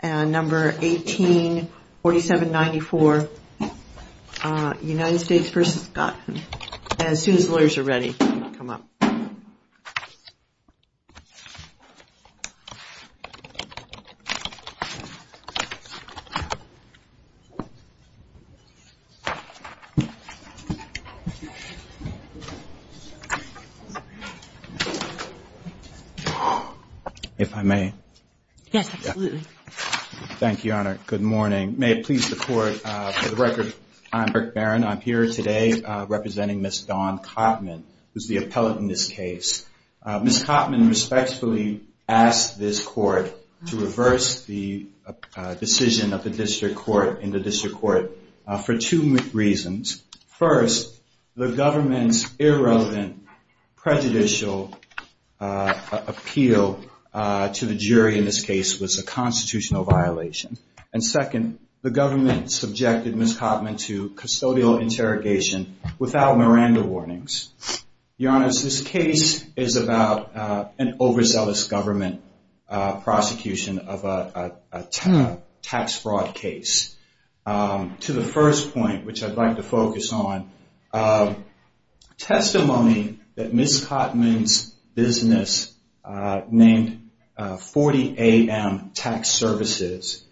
and number 184794 United States v. Scott As soon as the lawyers are ready, come up. If I may. Yes, absolutely. Thank you, Your Honor. Good morning. May it please the Court, for the record, I'm Rick Barron. I'm here today representing Ms. Dawn Cottman, who's the appellate in this case. Ms. Cottman respectfully asked this Court to reverse the decision of the district court in the district court for two reasons. First, the government's irrelevant prejudicial appeal to the jury in this case was a constitutional violation. And second, the government subjected Ms. Cottman to custodial interrogation without Miranda warnings. Your Honor, this case is about an overzealous government prosecution of a tax fraud case. To the first point, which I'd like to focus on, testimony that Ms. Cottman's business named 40 A.M. Tax Services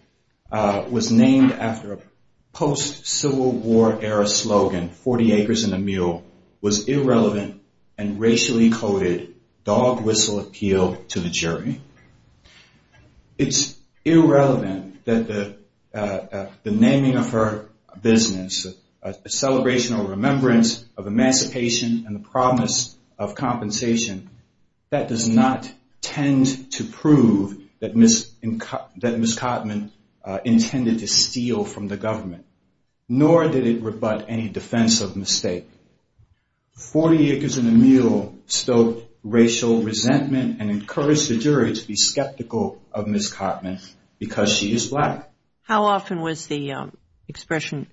was named after a post-Civil War era slogan, 40 acres and a mule, was irrelevant and racially coded dog whistle appeal to the jury. It's irrelevant that the naming of her business, a celebration or remembrance of emancipation and the promise of compensation, that does not tend to prove that Ms. Cottman intended to steal from the government, nor did it rebut any defense of mistake. 40 acres and a mule stoked racial resentment and encouraged the jury to be skeptical of Ms. Cottman because she is black. How often was the expression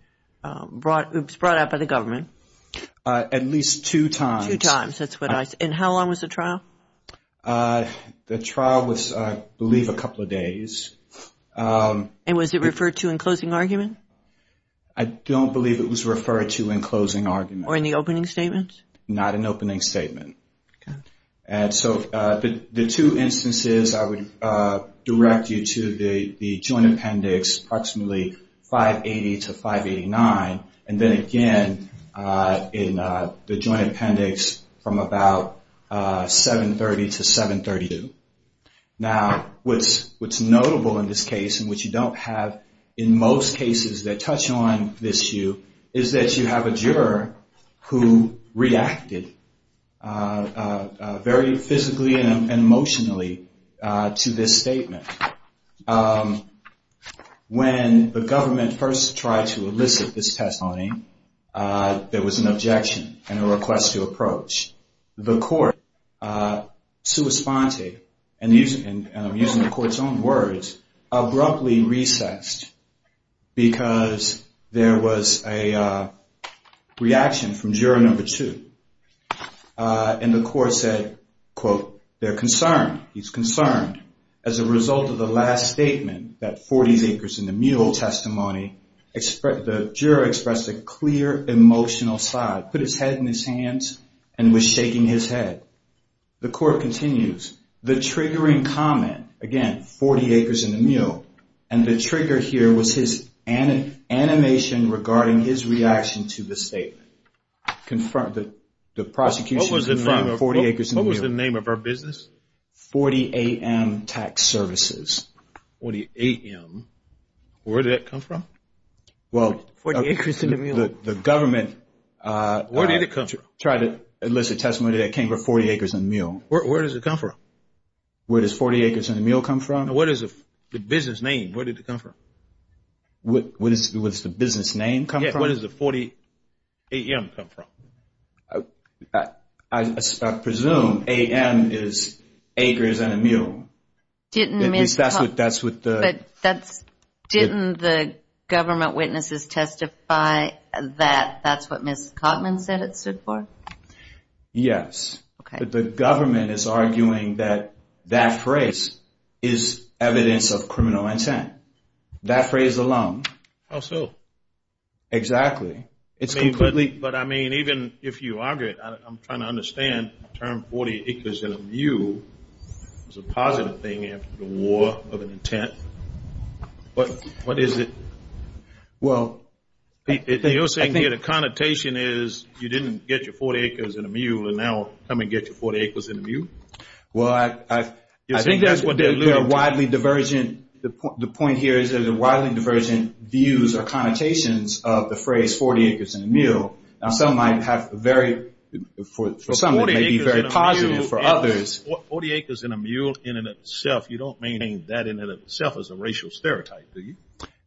brought out by the government? At least two times. Two times, that's what I said. And how long was the trial? The trial was, I believe, a couple of days. And was it referred to in closing argument? I don't believe it was referred to in closing argument. Or in the opening statement? Not in opening statement. Okay. And so the two instances I would direct you to the joint appendix approximately 580 to 589. And then again in the joint appendix from about 730 to 732. Now, what's notable in this case, and what you don't have in most cases that touch on this issue, is that you have a juror who reacted very physically and emotionally to this statement. When the government first tried to elicit this testimony, there was an objection and a request to approach. The court, sua sponte, and I'm using the court's own words, abruptly recessed because there was a reaction from juror number two. And the court said, quote, they're concerned. He's concerned. As a result of the last statement, that 40 acres in the mule testimony, the juror expressed a clear emotional side. He put his head in his hands and was shaking his head. The court continues. The triggering comment, again, 40 acres in the mule, and the trigger here was his animation regarding his reaction to the statement. The prosecution confirmed 40 acres in the mule. What was the name of our business? 40 AM Tax Services. 40 AM. Where did that come from? 40 acres in the mule. So the government tried to elicit testimony that came from 40 acres in the mule. Where does it come from? Where does 40 acres in the mule come from? What is the business name? Where did it come from? What does the business name come from? What does the 40 AM come from? I presume AM is acres in a mule. Didn't the government witnesses testify that that's what Ms. Cotman said it stood for? Yes. But the government is arguing that that phrase is evidence of criminal intent. That phrase alone. How so? Exactly. But, I mean, even if you argue it, I'm trying to understand the term 40 acres in a mule. It's a positive thing after the war of an intent. What is it? Well. You're saying here the connotation is you didn't get your 40 acres in a mule and now come and get your 40 acres in a mule? Well, I think that's what they're alluding to. The point here is that there are widely divergent views or connotations of the phrase 40 acres in a mule. Now, some might have a very, for some it may be very positive, for others. 40 acres in a mule in and of itself, you don't mean that in and of itself as a racial stereotype, do you?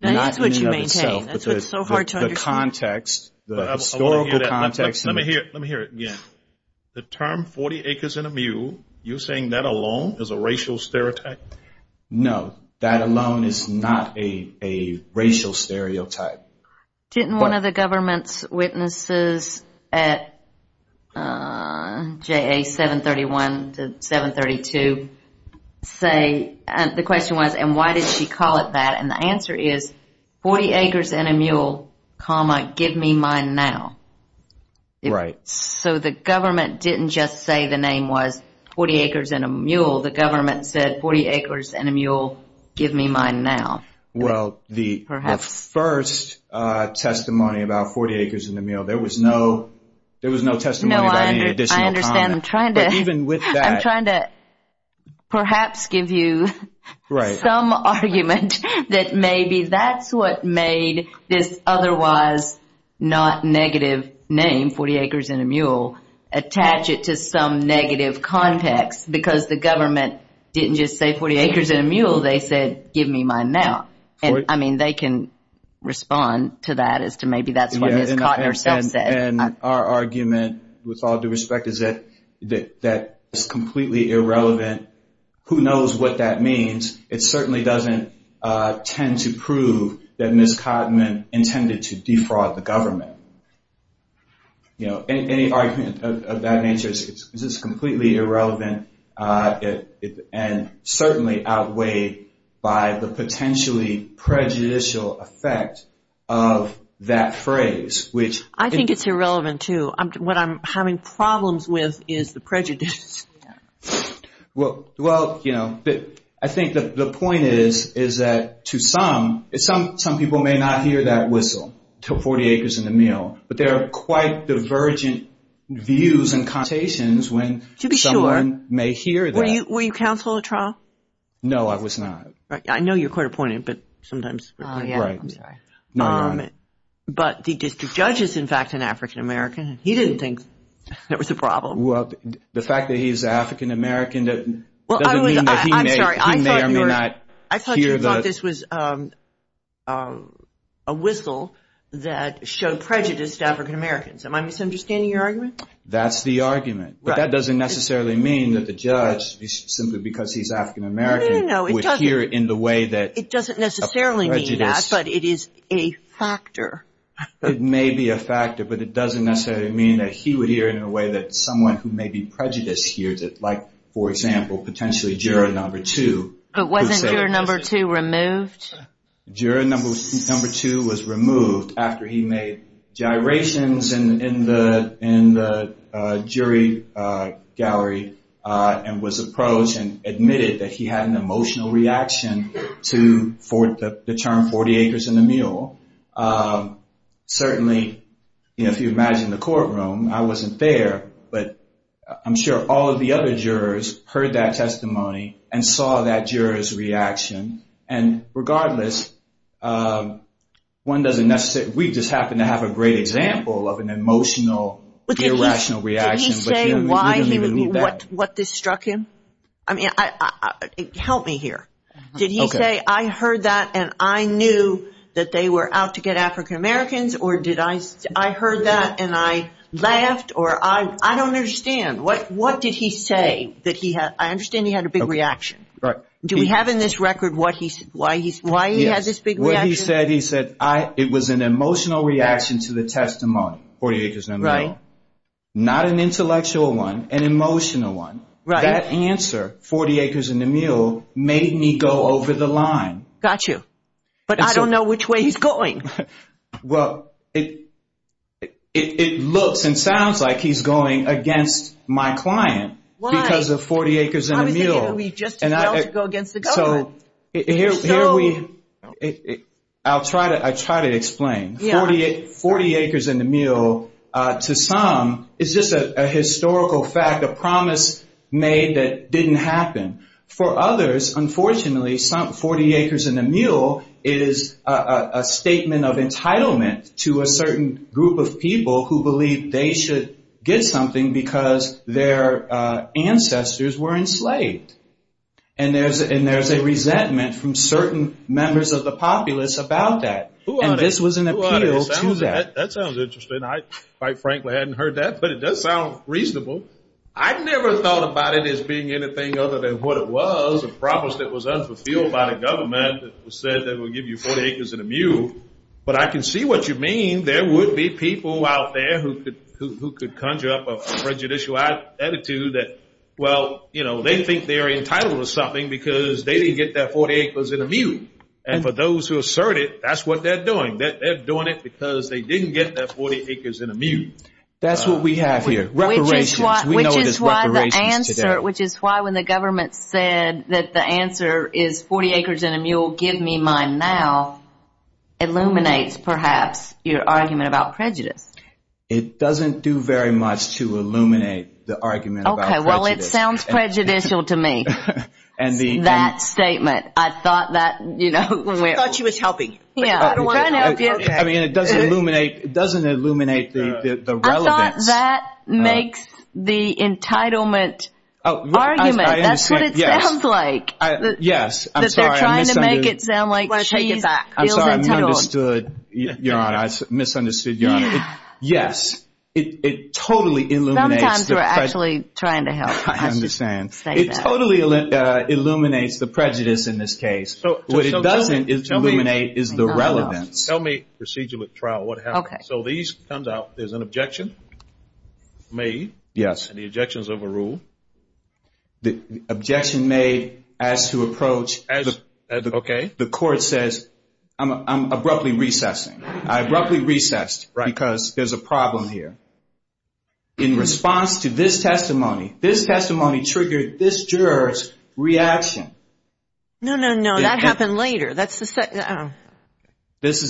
Not in and of itself. That's what you maintain. That's what's so hard to understand. The context, the historical context. Let me hear it again. The term 40 acres in a mule, you're saying that alone is a racial stereotype? No. That alone is not a racial stereotype. Didn't one of the government's witnesses at JA 731 to 732 say, the question was, and why did she call it that? And the answer is 40 acres in a mule, comma, give me mine now. Right. So the government didn't just say the name was 40 acres in a mule. The government said 40 acres in a mule, give me mine now. Well, the first testimony about 40 acres in a mule, there was no testimony about any additional comment. No, I understand. I'm trying to perhaps give you some argument that maybe that's what made this otherwise not negative name, 40 acres in a mule, attach it to some negative context because the government didn't just say 40 acres in a mule. They said, give me mine now. I mean, they can respond to that as to maybe that's what Ms. Cotton herself said. And our argument with all due respect is that that is completely irrelevant. Who knows what that means? It certainly doesn't tend to prove that Ms. Cotton intended to defraud the government. Any argument of that nature is completely irrelevant and certainly outweighed by the potentially prejudicial effect of that phrase. I think it's irrelevant, too. What I'm having problems with is the prejudices. Well, you know, I think the point is that to some, some people may not hear that whistle, 40 acres in a mule, but there are quite divergent views and connotations when someone may hear that. Were you counsel at trial? No, I was not. I know you're court appointed, but sometimes. Oh, yeah. Right. But the district judge is, in fact, an African-American. He didn't think that was a problem. Well, the fact that he's African-American doesn't mean that he may or may not hear the. I thought you thought this was a whistle that showed prejudice to African-Americans. Am I misunderstanding your argument? That's the argument. But that doesn't necessarily mean that the judge, simply because he's African-American, would hear it in the way that. It doesn't necessarily mean that, but it is a factor. It may be a factor, but it doesn't necessarily mean that he would hear it in a way that someone who may be prejudiced hears it, like, for example, potentially juror number two. But wasn't juror number two removed? Juror number two was removed after he made gyrations in the jury gallery and was approached and admitted that he had an emotional reaction to the term 40 acres and a mule. Certainly, if you imagine the courtroom, I wasn't there, but I'm sure all of the other jurors heard that testimony and saw that juror's reaction. And regardless, we just happen to have a great example of an emotional, irrational reaction. Did he say what this struck him? I mean, help me here. Did he say, I heard that and I knew that they were out to get African-Americans, or did I say, I heard that and I laughed, or I don't understand. What did he say? I understand he had a big reaction. Do we have in this record why he had this big reaction? What he said, he said, it was an emotional reaction to the testimony, 40 acres and a mule. Not an intellectual one, an emotional one. That answer, 40 acres and a mule, made me go over the line. Got you. But I don't know which way he's going. Well, it looks and sounds like he's going against my client because of 40 acres and a mule. Maybe we just failed to go against the government. I'll try to explain. 40 acres and a mule, to some, is just a historical fact, a promise made that didn't happen. For others, unfortunately, 40 acres and a mule is a statement of entitlement to a certain group of people who believe they should get something because their ancestors were enslaved. And there's a resentment from certain members of the populace about that. And this was an appeal to that. That sounds interesting. I, quite frankly, hadn't heard that, but it does sound reasonable. I never thought about it as being anything other than what it was, a promise that was unfulfilled by the government that said they would give you 40 acres and a mule. But I can see what you mean. There would be people out there who could conjure up a prejudicial attitude that, well, they think they're entitled to something because they didn't get their 40 acres and a mule. And for those who assert it, that's what they're doing. They're doing it because they didn't get their 40 acres and a mule. That's what we have here, reparations. We know it as reparations today. Which is why when the government said that the answer is 40 acres and a mule, give me mine now, illuminates, perhaps, your argument about prejudice. It doesn't do very much to illuminate the argument about prejudice. Okay, well, it sounds prejudicial to me, that statement. I thought that, you know. I thought she was helping. I mean, it doesn't illuminate the relevance. But that makes the entitlement argument. That's what it sounds like. Yes, I'm sorry. That they're trying to make it sound like she feels entitled. I'm sorry, I misunderstood, Your Honor. I misunderstood, Your Honor. Yes, it totally illuminates the prejudice. Sometimes we're actually trying to help. I understand. It totally illuminates the prejudice in this case. What it doesn't illuminate is the relevance. Tell me, procedural trial, what happens? Okay. So these comes out. There's an objection made. Yes. And the objection's overruled. The objection made as to approach. Okay. The court says, I'm abruptly recessing. I abruptly recessed because there's a problem here. In response to this testimony, this testimony triggered this juror's reaction. No, no, no, that happened later. This is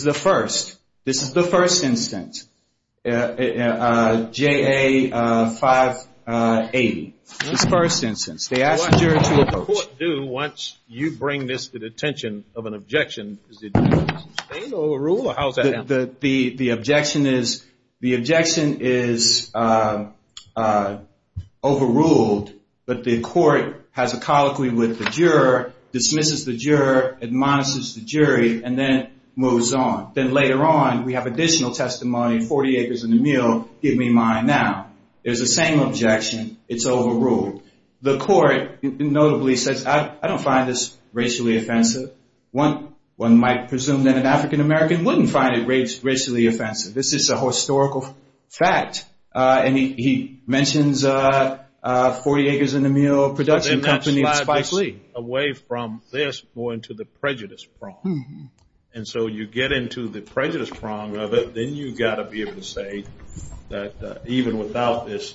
the first. This is the first instance, JA 580. This is the first instance. They asked the juror to approach. What does the court do once you bring this to the attention of an objection? Is it sustained or overruled, or how does that happen? The objection is overruled, but the court has a colloquy with the juror, dismisses the juror, admonishes the jury, and then moves on. Then later on, we have additional testimony, 40 acres and a mill, give me mine now. There's the same objection. It's overruled. The court notably says, I don't find this racially offensive. One might presume that an African-American wouldn't find it racially offensive. This is a historical fact, and he mentions 40 acres and a mill production company. Away from this going to the prejudice prong, and so you get into the prejudice prong of it, then you've got to be able to say that even without this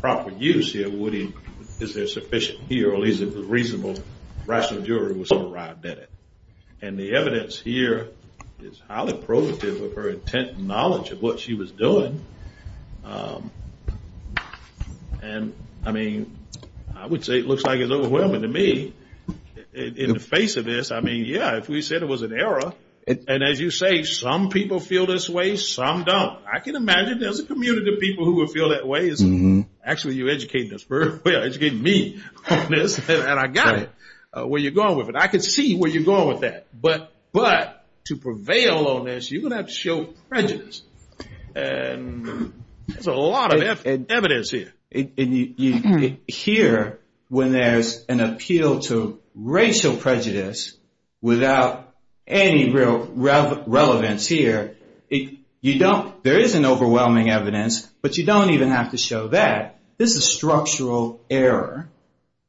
proper use here, is there sufficient here, or at least if it was reasonable, rational juror was going to arrive at it. And the evidence here is highly probative of her intent and knowledge of what she was doing. And, I mean, I would say it looks like it's overwhelming to me in the face of this. I mean, yeah, if we said it was an error, and as you say, some people feel this way, some don't. I can imagine there's a community of people who would feel that way. Actually, you educated us very well. You educated me on this, and I got it where you're going with it. I can see where you're going with that. But to prevail on this, you're going to have to show prejudice, and there's a lot of evidence here. Here, when there's an appeal to racial prejudice without any real relevance here, there is an overwhelming evidence, but you don't even have to show that. This is structural error.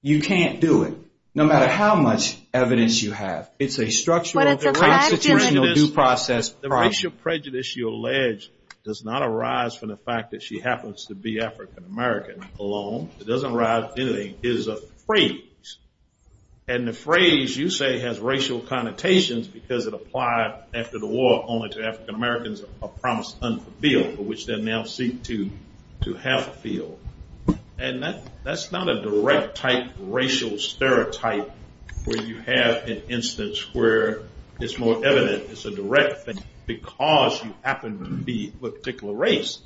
You can't do it, no matter how much evidence you have. It's a structural, constitutional due process. The racial prejudice you allege does not arise from the fact that she happens to be African American alone. It doesn't arise from anything. It is a phrase, and the phrase, you say, has racial connotations because it applied after the war only to African Americans of promise unfulfilled, for which they now seek to have fulfilled. And that's not a direct type racial stereotype where you have an instance where it's more evident. It's a direct thing because you happen to be of a particular race.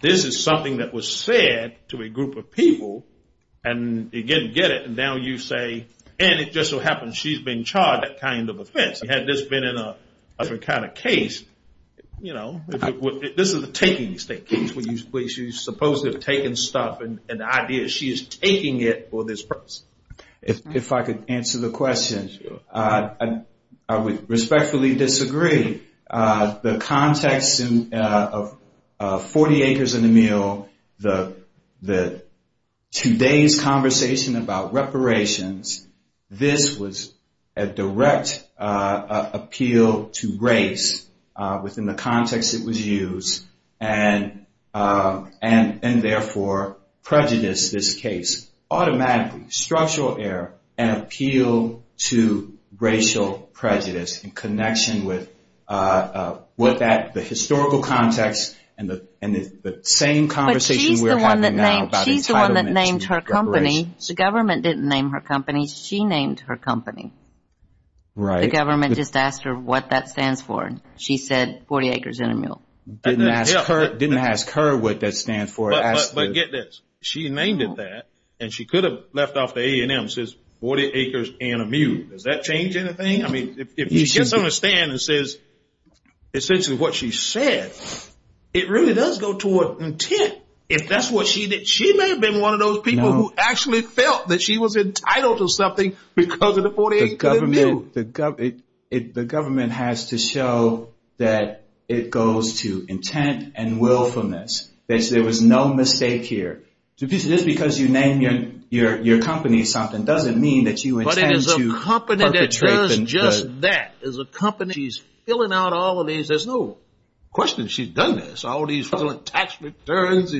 This is something that was said to a group of people, and they didn't get it, and now you say, and it just so happens she's being charged that kind of offense. Had this been in a different kind of case, you know, this is a taking state case where you supposedly have taken stuff, and the idea is she is taking it for this purpose. If I could answer the question, I would respectfully disagree. The context of 40 Acres and a Meal, today's conversation about reparations, this was a direct appeal to race within the context it was used. And, therefore, prejudice this case automatically, structural error, and appeal to racial prejudice in connection with the historical context and the same conversation we're having now about entitlement to reparations. But she's the one that named her company. The government didn't name her company. She named her company. Right. The government just asked her what that stands for, and she said 40 Acres and a Meal. Didn't ask her what that stands for. But get this. She named it that, and she could have left off the A&M. It says 40 Acres and a Meal. Does that change anything? I mean, if she gets on a stand and says essentially what she said, it really does go toward intent. If that's what she did, she may have been one of those people who actually felt that she was entitled to something because of the 40 Acres and a Meal. The government has to show that it goes to intent and willfulness. There was no mistake here. Just because you name your company something doesn't mean that you intend to perpetrate them. But it is a company that does just that. It is a company. She's filling out all of these. There's no question she's done this, all these tax returns.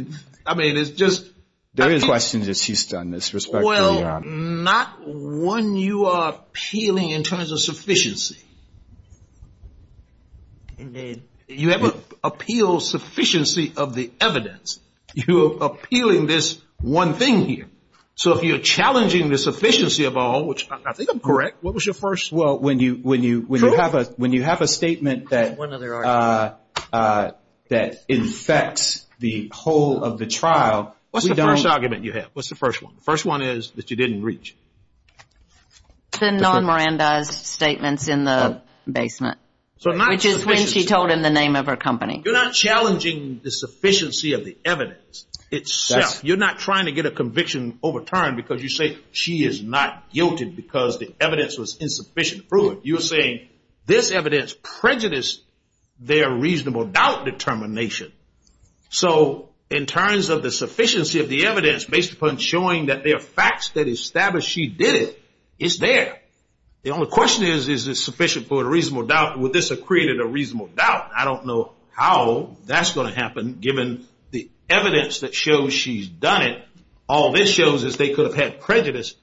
I mean, it's just – There is questions that she's done this, respectfully, Your Honor. Not when you are appealing in terms of sufficiency. You haven't appealed sufficiency of the evidence. You're appealing this one thing here. So if you're challenging the sufficiency of all, which I think I'm correct. What was your first? Well, when you have a statement that infects the whole of the trial, we don't – What's the first argument you have? What's the first one? The first one is that you didn't reach. The non-Miranda's statements in the basement. Which is when she told him the name of her company. You're not challenging the sufficiency of the evidence itself. You're not trying to get a conviction overturned because you say she is not guilty because the evidence was insufficient. You're saying this evidence prejudiced their reasonable doubt determination. So in terms of the sufficiency of the evidence based upon showing that there are facts that establish she did it, it's there. The only question is, is it sufficient for a reasonable doubt? Would this have created a reasonable doubt? I don't know how that's going to happen given the evidence that shows she's done it. All this shows is they could have had prejudice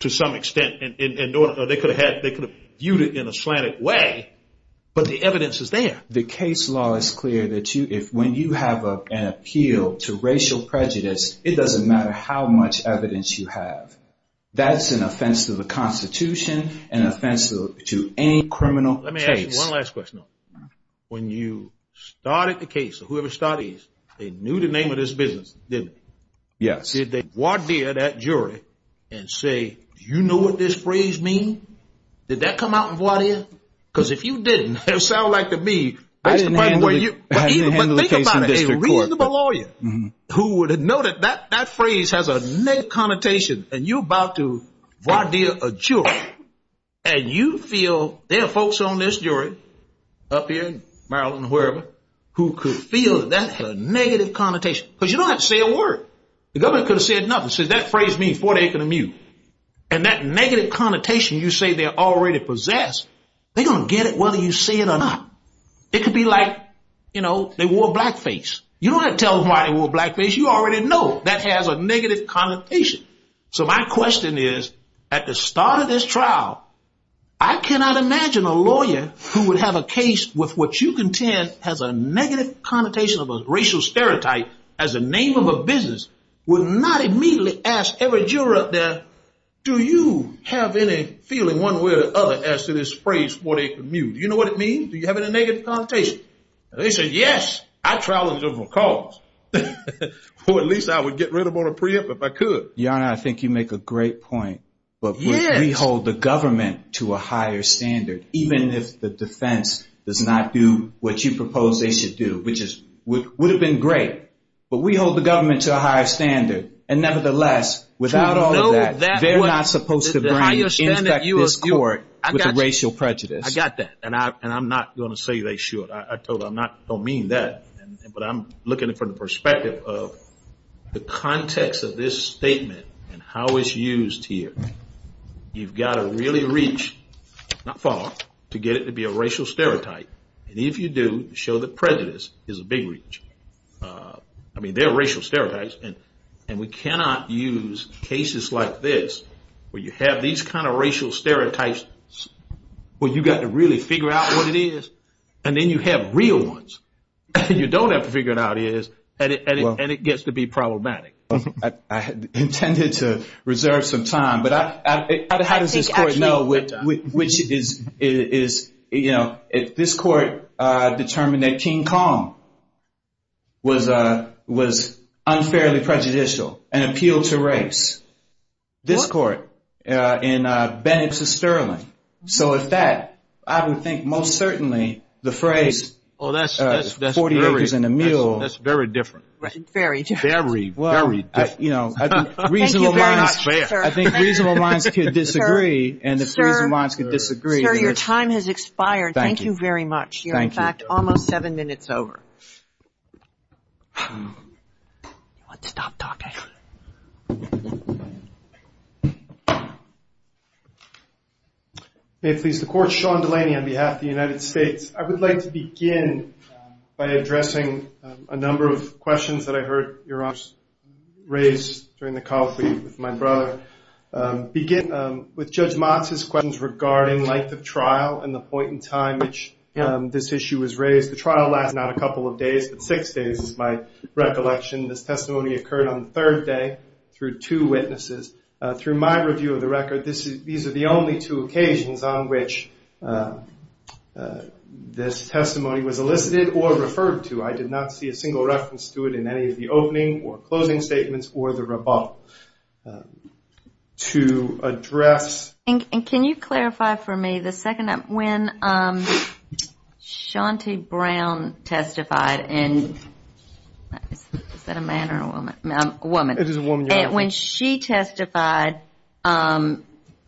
to some extent. They could have viewed it in a slanted way, but the evidence is there. The case law is clear that when you have an appeal to racial prejudice, it doesn't matter how much evidence you have. That's an offense to the Constitution, an offense to any criminal case. Let me ask you one last question. When you started the case, whoever started it, they knew the name of this business, didn't they? Yes. Did they voir dire that jury and say, do you know what this phrase means? Did that come out in voir dire? Because if you didn't, it would sound like to me, but think about it. A reasonable lawyer who would have noted that that phrase has a negative connotation, and you're about to voir dire a jury, and you feel there are folks on this jury up here in Maryland or wherever who could feel that has a negative connotation. Because you don't have to say a word. The government could have said nothing. They could have said, that phrase means voir dire. And that negative connotation you say they already possess, they're going to get it whether you say it or not. It could be like, you know, they wore a black face. You don't have to tell them why they wore a black face. You already know that has a negative connotation. So my question is, at the start of this trial, I cannot imagine a lawyer who would have a case with what you contend has a negative connotation of a racial stereotype as a name of a business would not immediately ask every juror up there, do you have any feeling one way or the other as to this phrase, voir dire. Do you know what it means? Do you have any negative connotation? They say, yes, I trial them for a cause. Or at least I would get rid of them on a preempt if I could. Your Honor, I think you make a great point. But we hold the government to a higher standard, even if the defense does not do what you propose they should do, which would have been great. But we hold the government to a higher standard. And nevertheless, without all of that, they're not supposed to bring it into this court with a racial prejudice. I got that. And I'm not going to say they should. I don't mean that. But I'm looking at it from the perspective of the context of this statement and how it's used here. You've got to really reach not far to get it to be a racial stereotype. And if you do, show that prejudice is a big reach. I mean, they're racial stereotypes. And we cannot use cases like this where you have these kind of racial stereotypes where you've got to really figure out what it is, and then you have real ones that you don't have to figure out what it is, and it gets to be problematic. I intended to reserve some time. But how does this court know which is, you know, this court determined that King Kong was unfairly prejudicial and appealed to race. This court in Bennet v. Sterling. So if that, I would think most certainly the phrase 40 acres and a mill. That's very different. Very different. Very, very different. Thank you very much, sir. I think reasonable minds could disagree. And if reasonable minds could disagree. Sir, your time has expired. Thank you. Thank you very much. You're, in fact, almost seven minutes over. Stop talking. May it please the Court. Sean Delaney on behalf of the United States. I would like to begin by addressing a number of questions that I heard your Honor raise during the call for you with my brother. Begin with Judge Motz's questions regarding length of trial and the point in time which this issue was raised. The trial lasted not a couple of days, but six days is my recollection. This testimony occurred on the third day through two witnesses. Through my review of the record, these are the only two occasions on which this testimony was elicited or referred to. I did not see a single reference to it in any of the opening or closing statements or the rebuttal. To address. And can you clarify for me the second, when Shanti Brown testified and, is that a man or a woman? A woman. It is a woman, Your Honor. When she testified,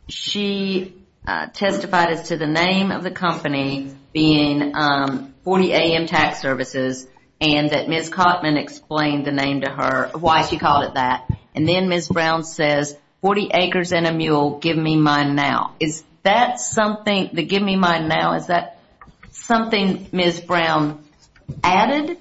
she testified as to the name of the company being 40 AM Tax Services and that Ms. Cotman explained the name to her, why she called it that. And then Ms. Brown says, 40 acres and a mule, give me mine now. Is that something, the give me mine now, is that something Ms. Brown added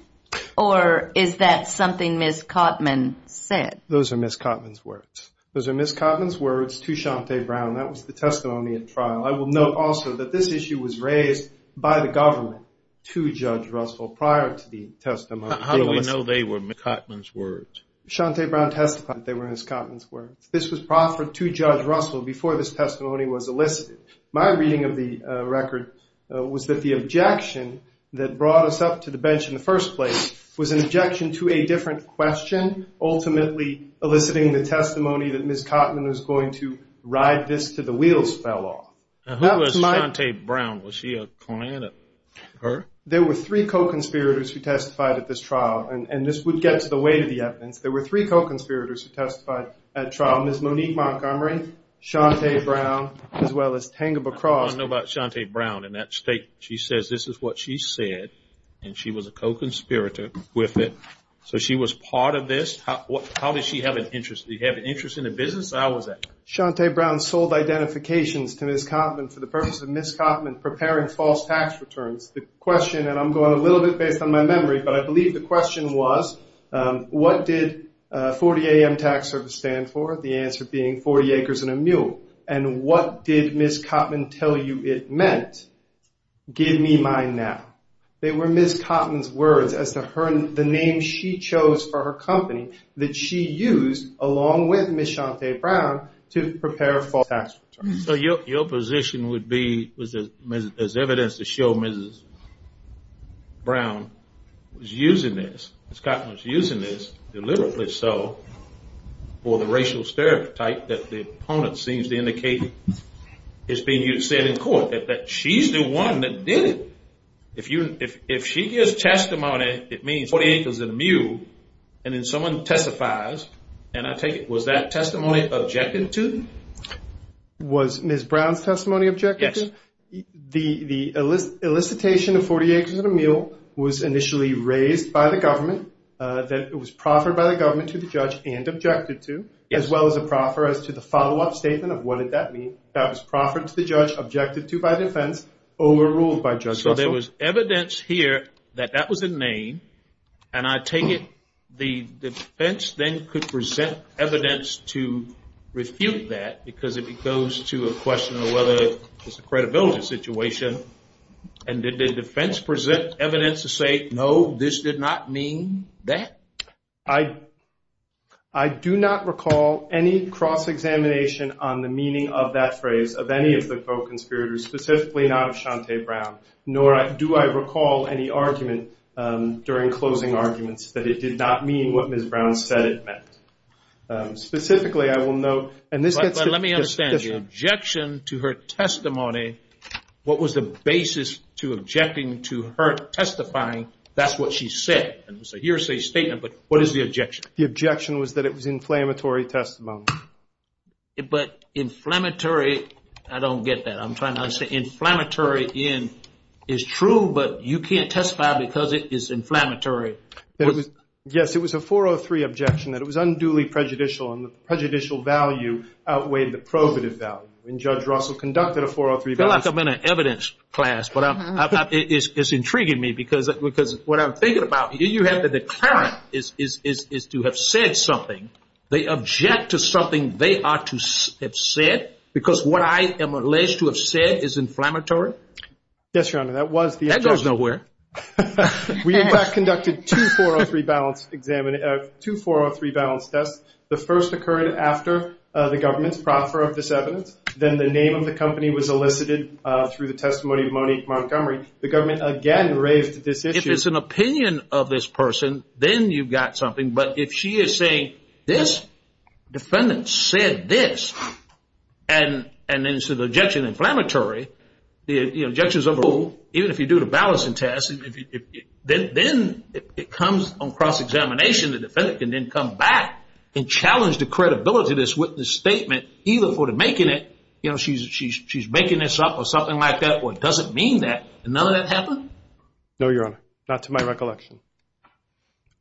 or is that something Ms. Cotman said? Those are Ms. Cotman's words. Those are Ms. Cotman's words to Shanti Brown. That was the testimony at trial. I will note also that this issue was raised by the government to Judge Russell prior to the testimony. How do we know they were Ms. Cotman's words? Shanti Brown testified they were Ms. Cotman's words. This was proffered to Judge Russell before this testimony was elicited. My reading of the record was that the objection that brought us up to the bench in the first place was an objection to a different question, ultimately eliciting the testimony that Ms. Cotman was going to ride this to the wheels fell off. Who was Shanti Brown? Was she a client of hers? There were three co-conspirators who testified at this trial, and this would get to the weight of the evidence. There were three co-conspirators who testified at trial, Ms. Monique Montgomery, Shanti Brown, as well as Tangeba Cross. I want to know about Shanti Brown and that state. She says this is what she said, and she was a co-conspirator with it. So she was part of this? How did she have an interest? Did she have an interest in the business? How was that? Shanti Brown sold identifications to Ms. Cotman for the purpose of Ms. Cotman preparing false tax returns. The question, and I'm going a little bit based on my memory, but I believe the question was, what did 40-AM tax service stand for, the answer being 40 acres and a mule? And what did Ms. Cotman tell you it meant? Give me mine now. They were Ms. Cotman's words as to the name she chose for her company that she used, along with Ms. Shanti Brown, to prepare false tax returns. So your position would be, as evidence to show Ms. Brown was using this, deliberately so, for the racial stereotype that the opponent seems to indicate is being used, said in court, that she's the one that did it. If she gives testimony, it means 40 acres and a mule, and then someone testifies, and I take it, was that testimony objected to? Was Ms. Brown's testimony objected to? Yes. The elicitation of 40 acres and a mule was initially raised by the government, that it was proffered by the government to the judge and objected to, as well as a proffer as to the follow-up statement of what did that mean. That was proffered to the judge, objected to by defense, overruled by Judge Russell. So there was evidence here that that was a name, and I take it the defense then could present evidence to refute that, because if it goes to a question of whether it's a credibility situation, and did the defense present evidence to say, no, this did not mean that? I do not recall any cross-examination on the meaning of that phrase of any of the co-conspirators, specifically not of Shante Brown, nor do I recall any argument during closing arguments that it did not mean what Ms. Brown said it meant. Specifically, I will note, and this gets to... But let me understand, the objection to her testimony, what was the basis to objecting to her testifying that's what she said? It was a hearsay statement, but what is the objection? The objection was that it was inflammatory testimony. But inflammatory, I don't get that. I'm trying to say inflammatory is true, but you can't testify because it is inflammatory. Yes, it was a 403 objection, that it was unduly prejudicial, and the prejudicial value outweighed the probative value. When Judge Russell conducted a 403... I feel like I'm in an evidence class, but it's intriguing me, because what I'm thinking about, you have the declarant is to have said something. They object to something they are to have said, because what I am alleged to have said is inflammatory? Yes, Your Honor, that was the objection. That goes nowhere. We, in fact, conducted two 403 balance tests. The first occurred after the government's proffer of this evidence. Then the name of the company was elicited through the testimony of Monique Montgomery. The government again raised this issue. If it's an opinion of this person, then you've got something. But if she is saying, this defendant said this, and then said the objection is inflammatory, the objection is overruled, even if you do the balancing test, then it comes on cross-examination, the defendant can then come back and challenge the credibility of this witness' statement, even for the making it, you know, she's making this up or something like that, or it doesn't mean that, and none of that happened? No, Your Honor, not to my recollection.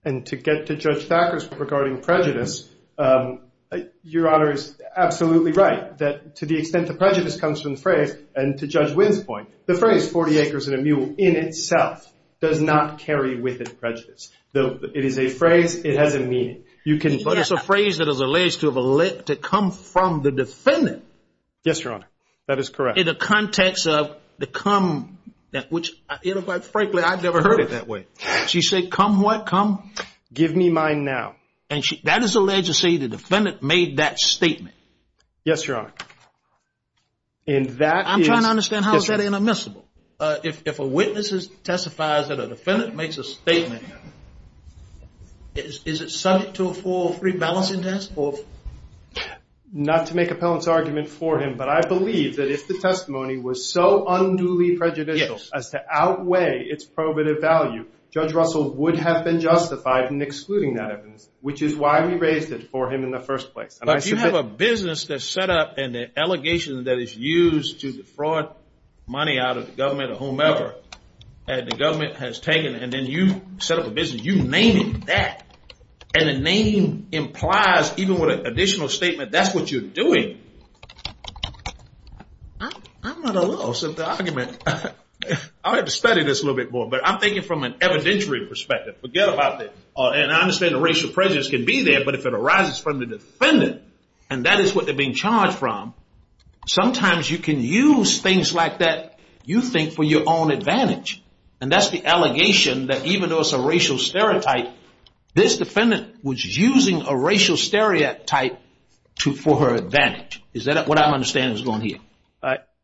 And to get to Judge Thacker's point regarding prejudice, Your Honor is absolutely right, that to the extent the prejudice comes from the phrase, and to Judge Wynn's point, the phrase 40 acres and a mule in itself does not carry with it prejudice. It is a phrase, it has a meaning. But it's a phrase that is alleged to have come from the defendant. Yes, Your Honor, that is correct. In the context of the come, which frankly I've never heard it that way. She said, come what, come? Give me mine now. Yes, Your Honor. And that is. I'm trying to understand how is that inadmissible? If a witness testifies that a defendant makes a statement, is it subject to a 403 balancing test? Not to make appellant's argument for him, but I believe that if the testimony was so unduly prejudicial as to outweigh its probative value, Judge Russell would have been justified in excluding that evidence, which is why we raised it for him in the first place. But if you have a business that's set up and an allegation that is used to defraud money out of the government or whomever, and the government has taken it and then you set up a business, you name it that, and the name implies, even with an additional statement, that's what you're doing. I'm not in love with the argument. I'll have to study this a little bit more, but I'm thinking from an evidentiary perspective. Forget about that. And I understand a racial prejudice can be there, but if it arises from the defendant, and that is what they're being charged from, sometimes you can use things like that, you think, for your own advantage. And that's the allegation that even though it's a racial stereotype, this defendant was using a racial stereotype for her advantage. Is that what I'm understanding is going here?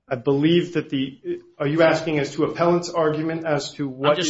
I believe that the—are you asking as to appellant's argument as to what— what is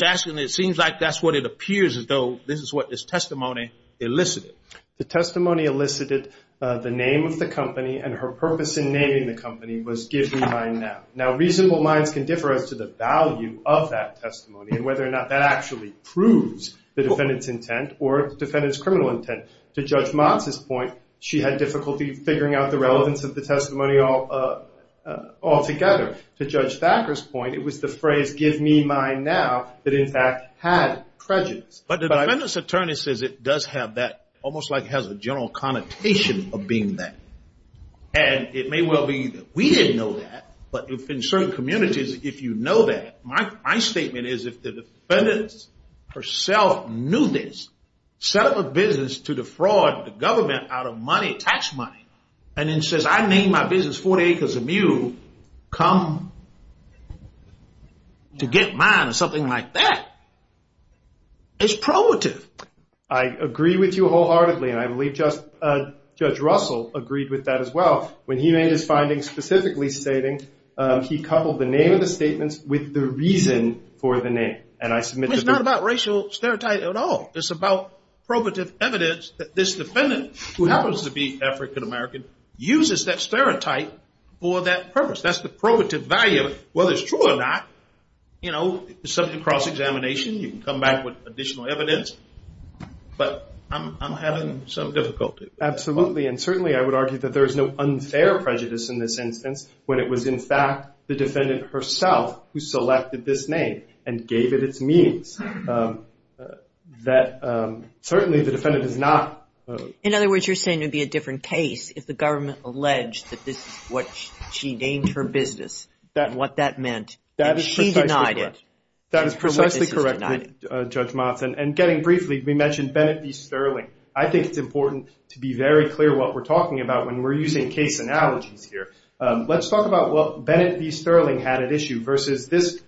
testimony elicited? The testimony elicited the name of the company and her purpose in naming the company was give me mine now. Now reasonable minds can differ as to the value of that testimony and whether or not that actually proves the defendant's intent or the defendant's criminal intent. To Judge Motz's point, she had difficulty figuring out the relevance of the testimony altogether. To Judge Thacker's point, it was the phrase give me mine now that in fact had prejudice. But the defendant's attorney says it does have that—almost like it has a general connotation of being that. And it may well be that we didn't know that, but in certain communities, if you know that. My statement is if the defendant herself knew this, set up a business to defraud the government out of money, tax money, and then says I named my business 40 Acres of Mule, come to get mine or something like that. It's probative. I agree with you wholeheartedly and I believe Judge Russell agreed with that as well. When he made his findings specifically stating he coupled the name of the statements with the reason for the name. And I submit— It's not about racial stereotype at all. It's about probative evidence that this defendant, who happens to be African-American, uses that stereotype for that purpose. That's the probative value. Whether it's true or not, you know, subject cross-examination, you can come back with additional evidence. But I'm having some difficulty. Absolutely. And certainly I would argue that there is no unfair prejudice in this instance when it was in fact the defendant herself who selected this name and gave it its means. That certainly the defendant is not— In other words, you're saying it would be a different case if the government alleged that this is what she named her business. What that meant. That is precisely correct. And she denied it. That is precisely correct, Judge Motz. And getting briefly, we mentioned Bennett v. Sterling. I think it's important to be very clear what we're talking about when we're using case analogies here. Let's talk about what Bennett v. Sterling had at issue versus this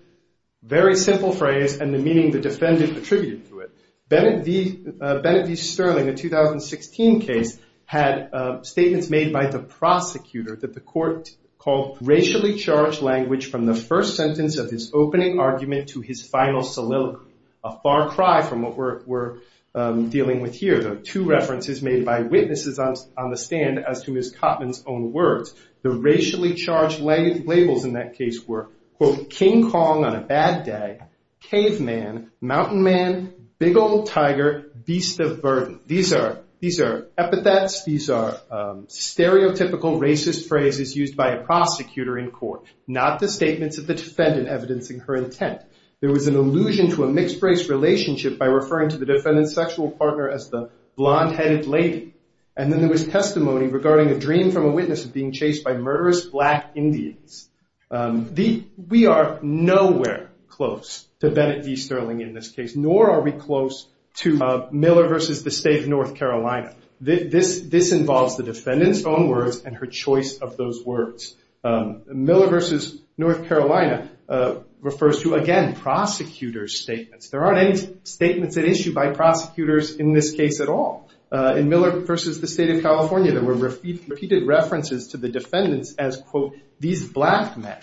very simple phrase and the meaning the defendant attributed to it. Bennett v. Sterling, the 2016 case, had statements made by the prosecutor that the court called racially charged language from the first sentence of his opening argument to his final soliloquy. A far cry from what we're dealing with here. There are two references made by witnesses on the stand as to Ms. Cotman's own words. The racially charged labels in that case were, quote, King Kong on a bad day, caveman, mountain man, big old tiger, beast of burden. These are epithets. These are stereotypical racist phrases used by a prosecutor in court, not the statements of the defendant evidencing her intent. There was an allusion to a mixed race relationship by referring to the defendant's sexual partner as the blonde-headed lady. And then there was testimony regarding a dream from a witness of being chased by murderous black Indians. We are nowhere close to Bennett v. Sterling in this case, nor are we close to Miller v. the state of North Carolina. This involves the defendant's own words and her choice of those words. Miller v. North Carolina refers to, again, prosecutor's statements. There aren't any statements at issue by prosecutors in this case at all. In Miller v. the state of California, there were repeated references to the defendants as, quote, these black men.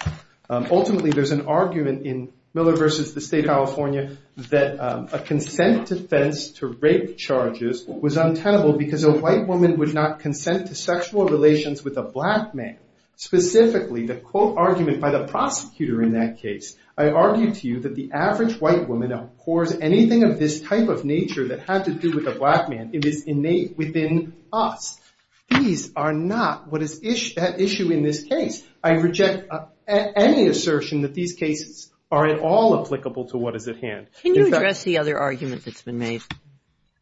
Ultimately, there's an argument in Miller v. the state of California that a consent defense to rape charges was untenable because a white woman would not consent to sexual relations with a black man. Specifically, the, quote, argument by the prosecutor in that case, I argue to you that the average white woman abhors anything of this type of nature that had to do with a black man. It is innate within us. These are not what is at issue in this case. I reject any assertion that these cases are at all applicable to what is at hand. Can you address the other argument that's been made?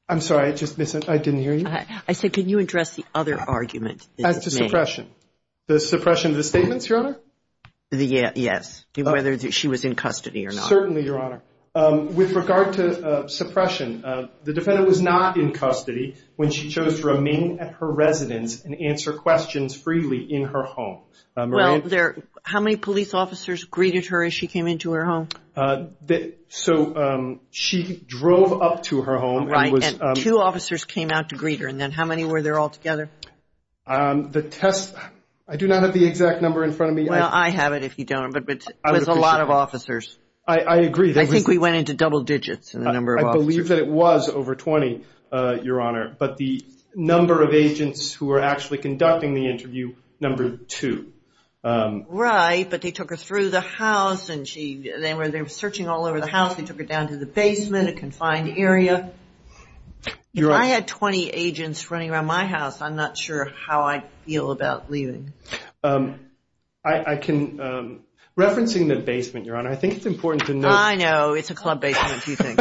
I'm sorry, I just missed it. I didn't hear you. I said, can you address the other argument that's been made? As to suppression, the suppression of the statements, Your Honor? Yes, whether she was in custody or not. Certainly, Your Honor. With regard to suppression, the defendant was not in custody when she chose to remain at her residence and answer questions freely in her home. Well, how many police officers greeted her as she came into her home? So she drove up to her home. Right, and two officers came out to greet her. And then how many were there altogether? The test, I do not have the exact number in front of me. Well, I have it if you don't, but it was a lot of officers. I agree. I think we went into double digits in the number of officers. I believe that it was over 20, Your Honor, but the number of agents who were actually conducting the interview, number two. Right, but they took her through the house and they were searching all over the house. They took her down to the basement, a confined area. If I had 20 agents running around my house, I'm not sure how I'd feel about leaving. Referencing the basement, Your Honor, I think it's important to note. I know. It's a club basement, do you think?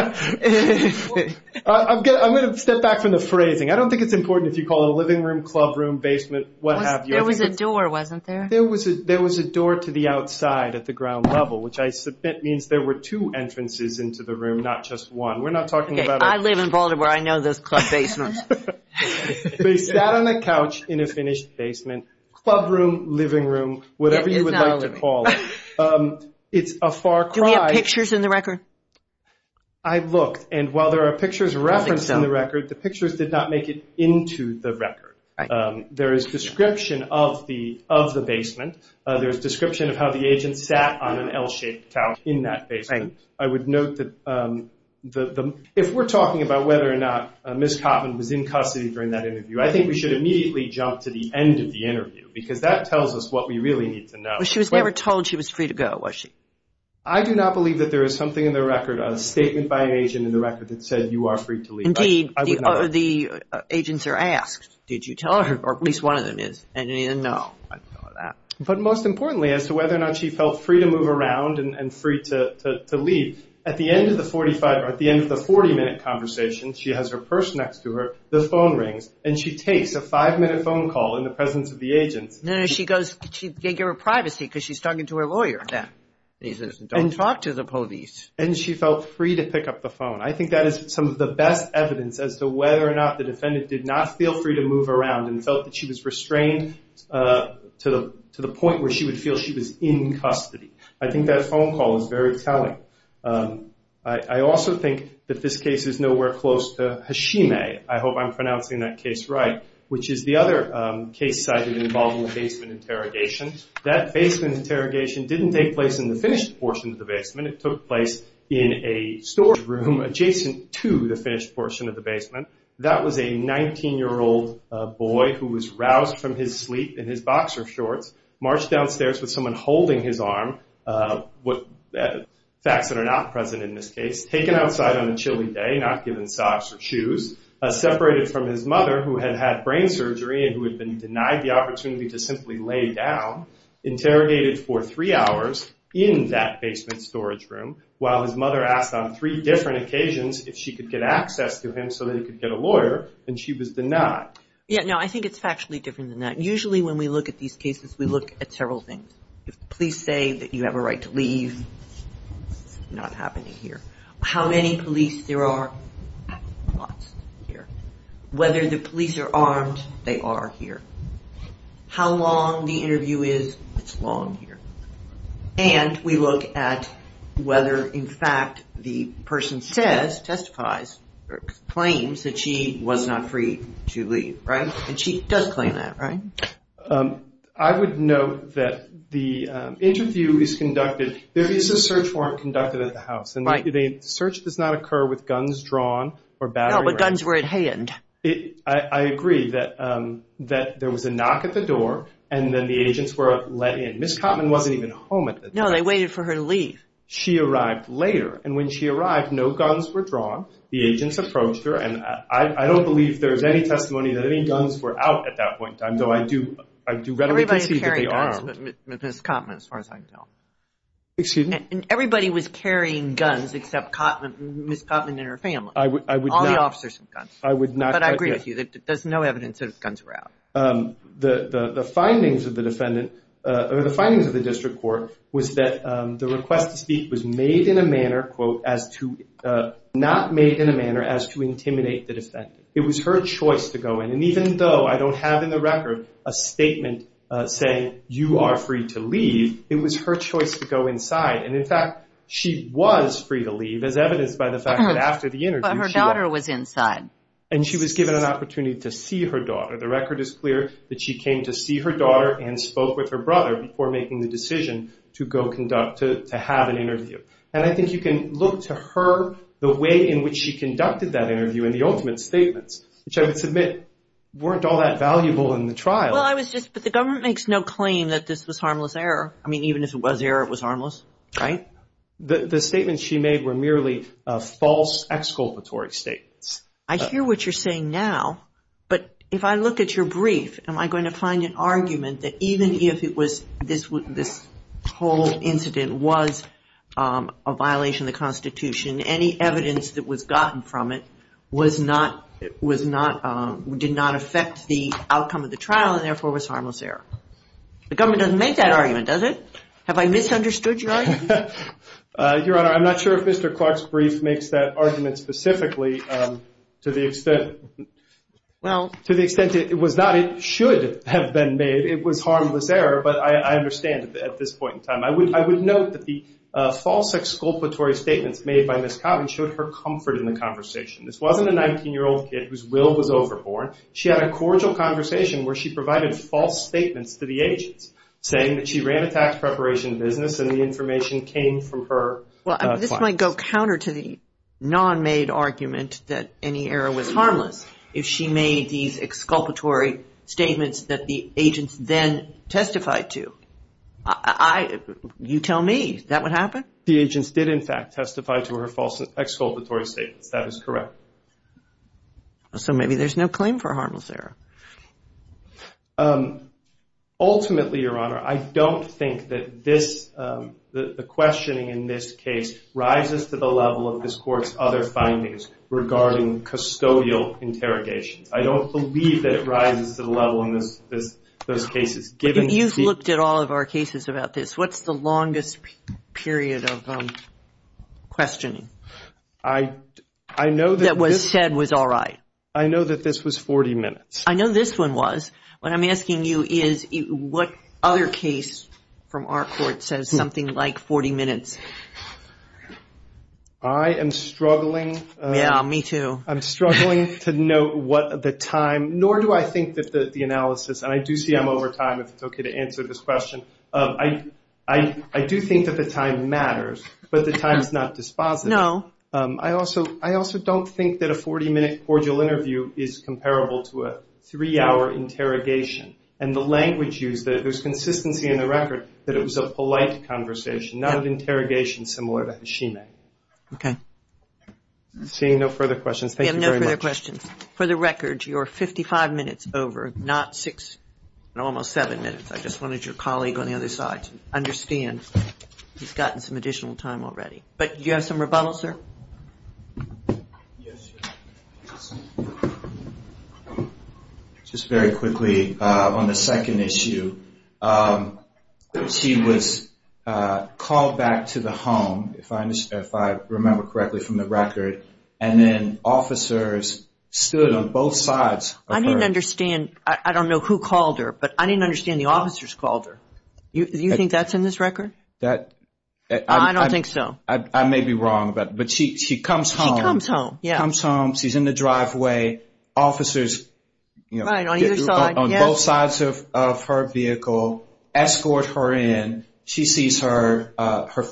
I'm going to step back from the phrasing. I don't think it's important if you call it a living room, club room, basement, what have you. There was a door, wasn't there? There was a door to the outside at the ground level, which I submit means there were two entrances into the room, not just one. I live in Baltimore. I know those club basements. They sat on a couch in a finished basement, club room, living room, whatever you would like to call it. It's a far cry. Do we have pictures in the record? I looked, and while there are pictures referenced in the record, the pictures did not make it into the record. There is description of the basement. There is description of how the agent sat on an L-shaped couch in that basement. I would note that if we're talking about whether or not Ms. Cotman was in custody during that interview, I think we should immediately jump to the end of the interview because that tells us what we really need to know. She was never told she was free to go, was she? I do not believe that there is something in the record, a statement by an agent in the record that said you are free to leave. Indeed, the agents are asked, did you tell her, or at least one of them is, and you didn't know. But most importantly, as to whether or not she felt free to move around and free to leave, at the end of the 40-minute conversation, she has her purse next to her, the phone rings, and she takes a five-minute phone call in the presence of the agents. No, no, she goes to get her privacy because she's talking to her lawyer. And talk to the police. And she felt free to pick up the phone. I think that is some of the best evidence as to whether or not the defendant did not feel free to move around and felt that she was restrained to the point where she would feel she was in custody. I think that phone call is very telling. I also think that this case is nowhere close to Hashime. I hope I'm pronouncing that case right, which is the other case cited involving a basement interrogation. That basement interrogation didn't take place in the finished portion of the basement. It took place in a storage room adjacent to the finished portion of the basement. That was a 19-year-old boy who was roused from his sleep in his boxer shorts, marched downstairs with someone holding his arm, facts that are not present in this case, taken outside on a chilly day, not given socks or shoes, separated from his mother who had had brain surgery and who had been denied the opportunity to simply lay down, interrogated for three hours in that basement storage room, while his mother asked on three different occasions if she could get access to him so that he could get a lawyer, and she was denied. Yeah, no, I think it's factually different than that. Usually when we look at these cases, we look at several things. If the police say that you have a right to leave, it's not happening here. How many police there are, lots here. Whether the police are armed, they are here. How long the interview is, it's long here. And we look at whether, in fact, the person says, testifies, or claims that she was not free to leave, right? And she does claim that, right? I would note that the interview is conducted, there is a search warrant conducted at the house, and the search does not occur with guns drawn or battery. No, but guns were at hand. I agree that there was a knock at the door, and then the agents were let in. Ms. Cotman wasn't even home at the time. No, they waited for her to leave. She arrived later, and when she arrived, no guns were drawn. The agents approached her, and I don't believe there's any testimony that any guns were out at that point in time, though I do readily concede that they are armed. Everybody was carrying guns, but Ms. Cotman, as far as I can tell. Excuse me? Everybody was carrying guns except Ms. Cotman and her family. I would not. All the officers had guns. I would not. But I agree with you. There's no evidence that guns were out. The findings of the defendant or the findings of the district court was that the request to speak was made in a manner, quote, as to not made in a manner as to intimidate the defendant. It was her choice to go in, and even though I don't have in the record a statement saying you are free to leave, it was her choice to go inside. And, in fact, she was free to leave as evidenced by the fact that after the interview. But her daughter was inside. And she was given an opportunity to see her daughter. The record is clear that she came to see her daughter and spoke with her brother before making the decision to go conduct, to have an interview. And I think you can look to her, the way in which she conducted that interview and the ultimate statements, which I would submit weren't all that valuable in the trial. Well, I was just, but the government makes no claim that this was harmless error. I mean, even if it was error, it was harmless, right? The statements she made were merely false exculpatory statements. I hear what you're saying now, but if I look at your brief, am I going to find an argument that even if this whole incident was a violation of the Constitution, any evidence that was gotten from it did not affect the outcome of the trial, and therefore was harmless error? The government doesn't make that argument, does it? Have I misunderstood your argument? Your Honor, I'm not sure if Mr. Clark's brief makes that argument specifically to the extent it was not. It should have been made. It was harmless error, but I understand at this point in time. I would note that the false exculpatory statements made by Ms. Cobb showed her comfort in the conversation. This wasn't a 19-year-old kid whose will was overborne. She had a cordial conversation where she provided false statements to the agents, saying that she ran a tax preparation business and the information came from her clients. Well, this might go counter to the non-made argument that any error was harmless if she made these exculpatory statements that the agents then testified to. You tell me. Is that what happened? The agents did, in fact, testify to her false exculpatory statements. That is correct. So maybe there's no claim for harmless error. Ultimately, Your Honor, I don't think that the questioning in this case rises to the level of this Court's other findings regarding custodial interrogations. I don't believe that it rises to the level in those cases. You've looked at all of our cases about this. What's the longest period of questioning that was said was all right? I know that this was 40 minutes. I know this one was. What I'm asking you is what other case from our Court says something like 40 minutes? I am struggling. Yeah, me too. I'm struggling to know what the time, nor do I think that the analysis, and I do see I'm over time if it's okay to answer this question. I do think that the time matters, but the time is not dispositive. No. I also don't think that a 40-minute cordial interview is comparable to a three-hour interrogation, and the language used, there's consistency in the record that it was a polite conversation, not an interrogation similar to Hashime. Okay. Seeing no further questions, thank you very much. We have no further questions. For the record, you're 55 minutes over, not six and almost seven minutes. I just wanted your colleague on the other side to understand he's gotten some additional time already. But do you have some rebuttal, sir? Just very quickly on the second issue, she was called back to the home, if I remember correctly from the record, and then officers stood on both sides. I didn't understand. I don't know who called her, but I didn't understand the officers called her. Do you think that's in this record? I don't think so. I may be wrong, but she comes home. She comes home. She comes home. She's in the driveway. Officers on both sides of her vehicle escort her in. She sees her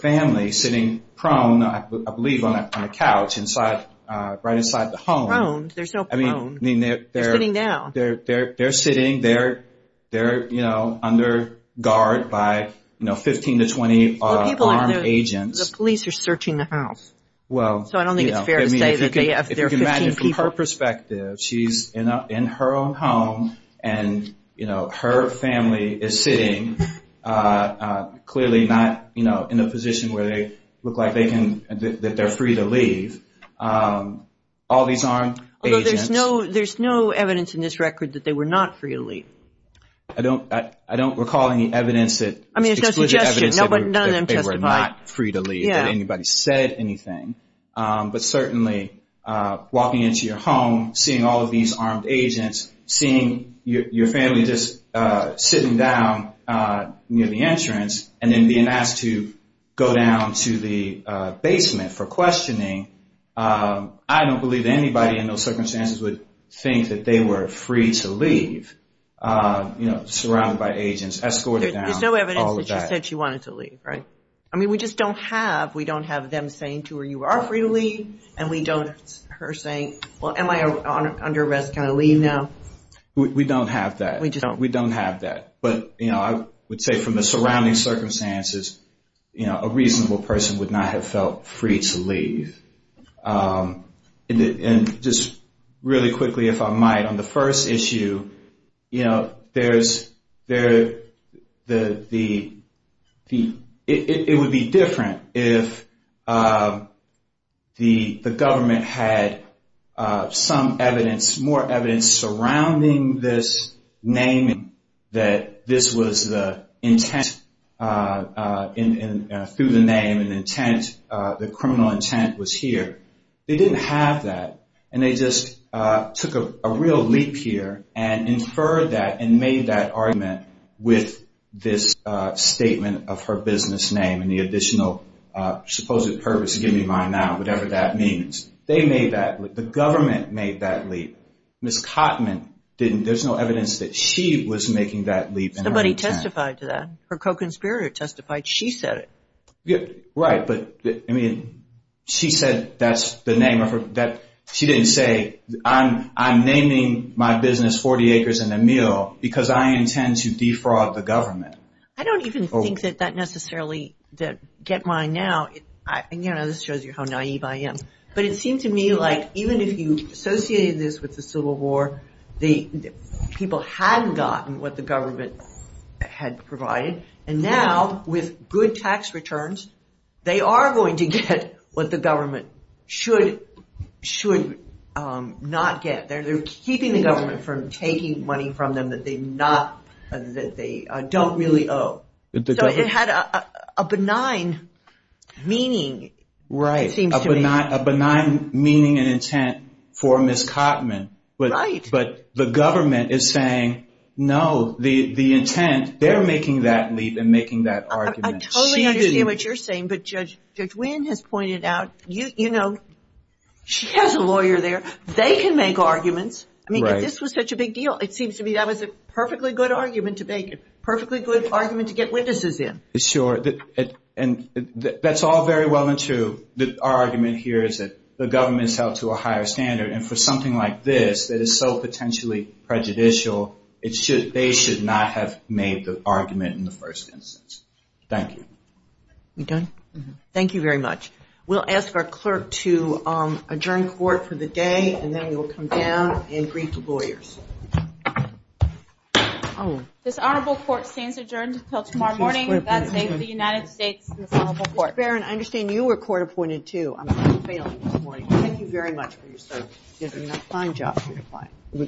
family sitting prone, I believe, on the couch right inside the home. Prone. They're so prone. They're sitting down. The police are searching the house. So I don't think it's fair to say that they're 15 people. If you can imagine from her perspective, she's in her own home, and her family is sitting clearly not in a position where they look like they're free to leave. Although there's no evidence in this record that they were not free to leave. I don't recall any evidence that they were not free to leave, that anybody said anything. But certainly walking into your home, seeing all of these armed agents, seeing your family just sitting down near the entrance and then being asked to go down to the basement for questioning, I don't believe anybody in those circumstances would think that they were free to leave, surrounded by agents, escorted down, all of that. There's no evidence that she said she wanted to leave, right? I mean, we just don't have them saying to her, you are free to leave, and we don't have her saying, well, am I under arrest, can I leave now? We don't have that. We just don't. We don't have that. But I would say from the surrounding circumstances, a reasonable person would not have felt free to leave. And just really quickly, if I might, on the first issue, it would be different if the government had some evidence, more evidence surrounding this name, that this was the intent, through the name, an intent, the criminal intent was here. They didn't have that, and they just took a real leap here and inferred that and made that argument with this statement of her business name and the additional supposed purpose, give me mine now, whatever that means. They made that leap. The government made that leap. Ms. Cottman didn't. There's no evidence that she was making that leap. Somebody testified to that. Her co-conspirator testified. She said it. Right, but, I mean, she said that's the name of her, that she didn't say, I'm naming my business 40 Acres and a Meal because I intend to defraud the government. I don't even think that that necessarily, that get mine now, you know, this shows you how naive I am. But it seemed to me like even if you associated this with the Civil War, people had gotten what the government had provided, and now with good tax returns, they are going to get what the government should not get. They're keeping the government from taking money from them that they don't really owe. So it had a benign meaning, it seems to me. Not a benign meaning and intent for Ms. Cottman. Right. But the government is saying, no, the intent, they're making that leap and making that argument. I totally understand what you're saying, but Judge Wynn has pointed out, you know, she has a lawyer there. They can make arguments. Right. I mean, this was such a big deal. It seems to me that was a perfectly good argument to make, a perfectly good argument to get witnesses in. Sure. And that's all very well and true. Our argument here is that the government is held to a higher standard, and for something like this that is so potentially prejudicial, they should not have made the argument in the first instance. Thank you. We done? Mm-hmm. Thank you very much. We'll ask our clerk to adjourn court for the day, and then we will come down and greet the lawyers. Oh. This Honorable Court stands adjourned until tomorrow morning. God save the United States and this Honorable Court. Ms. Barron, I understand you were court appointed, too. I'm sorry you're failing this morning. Thank you very much for your service. You did a fine job for your client.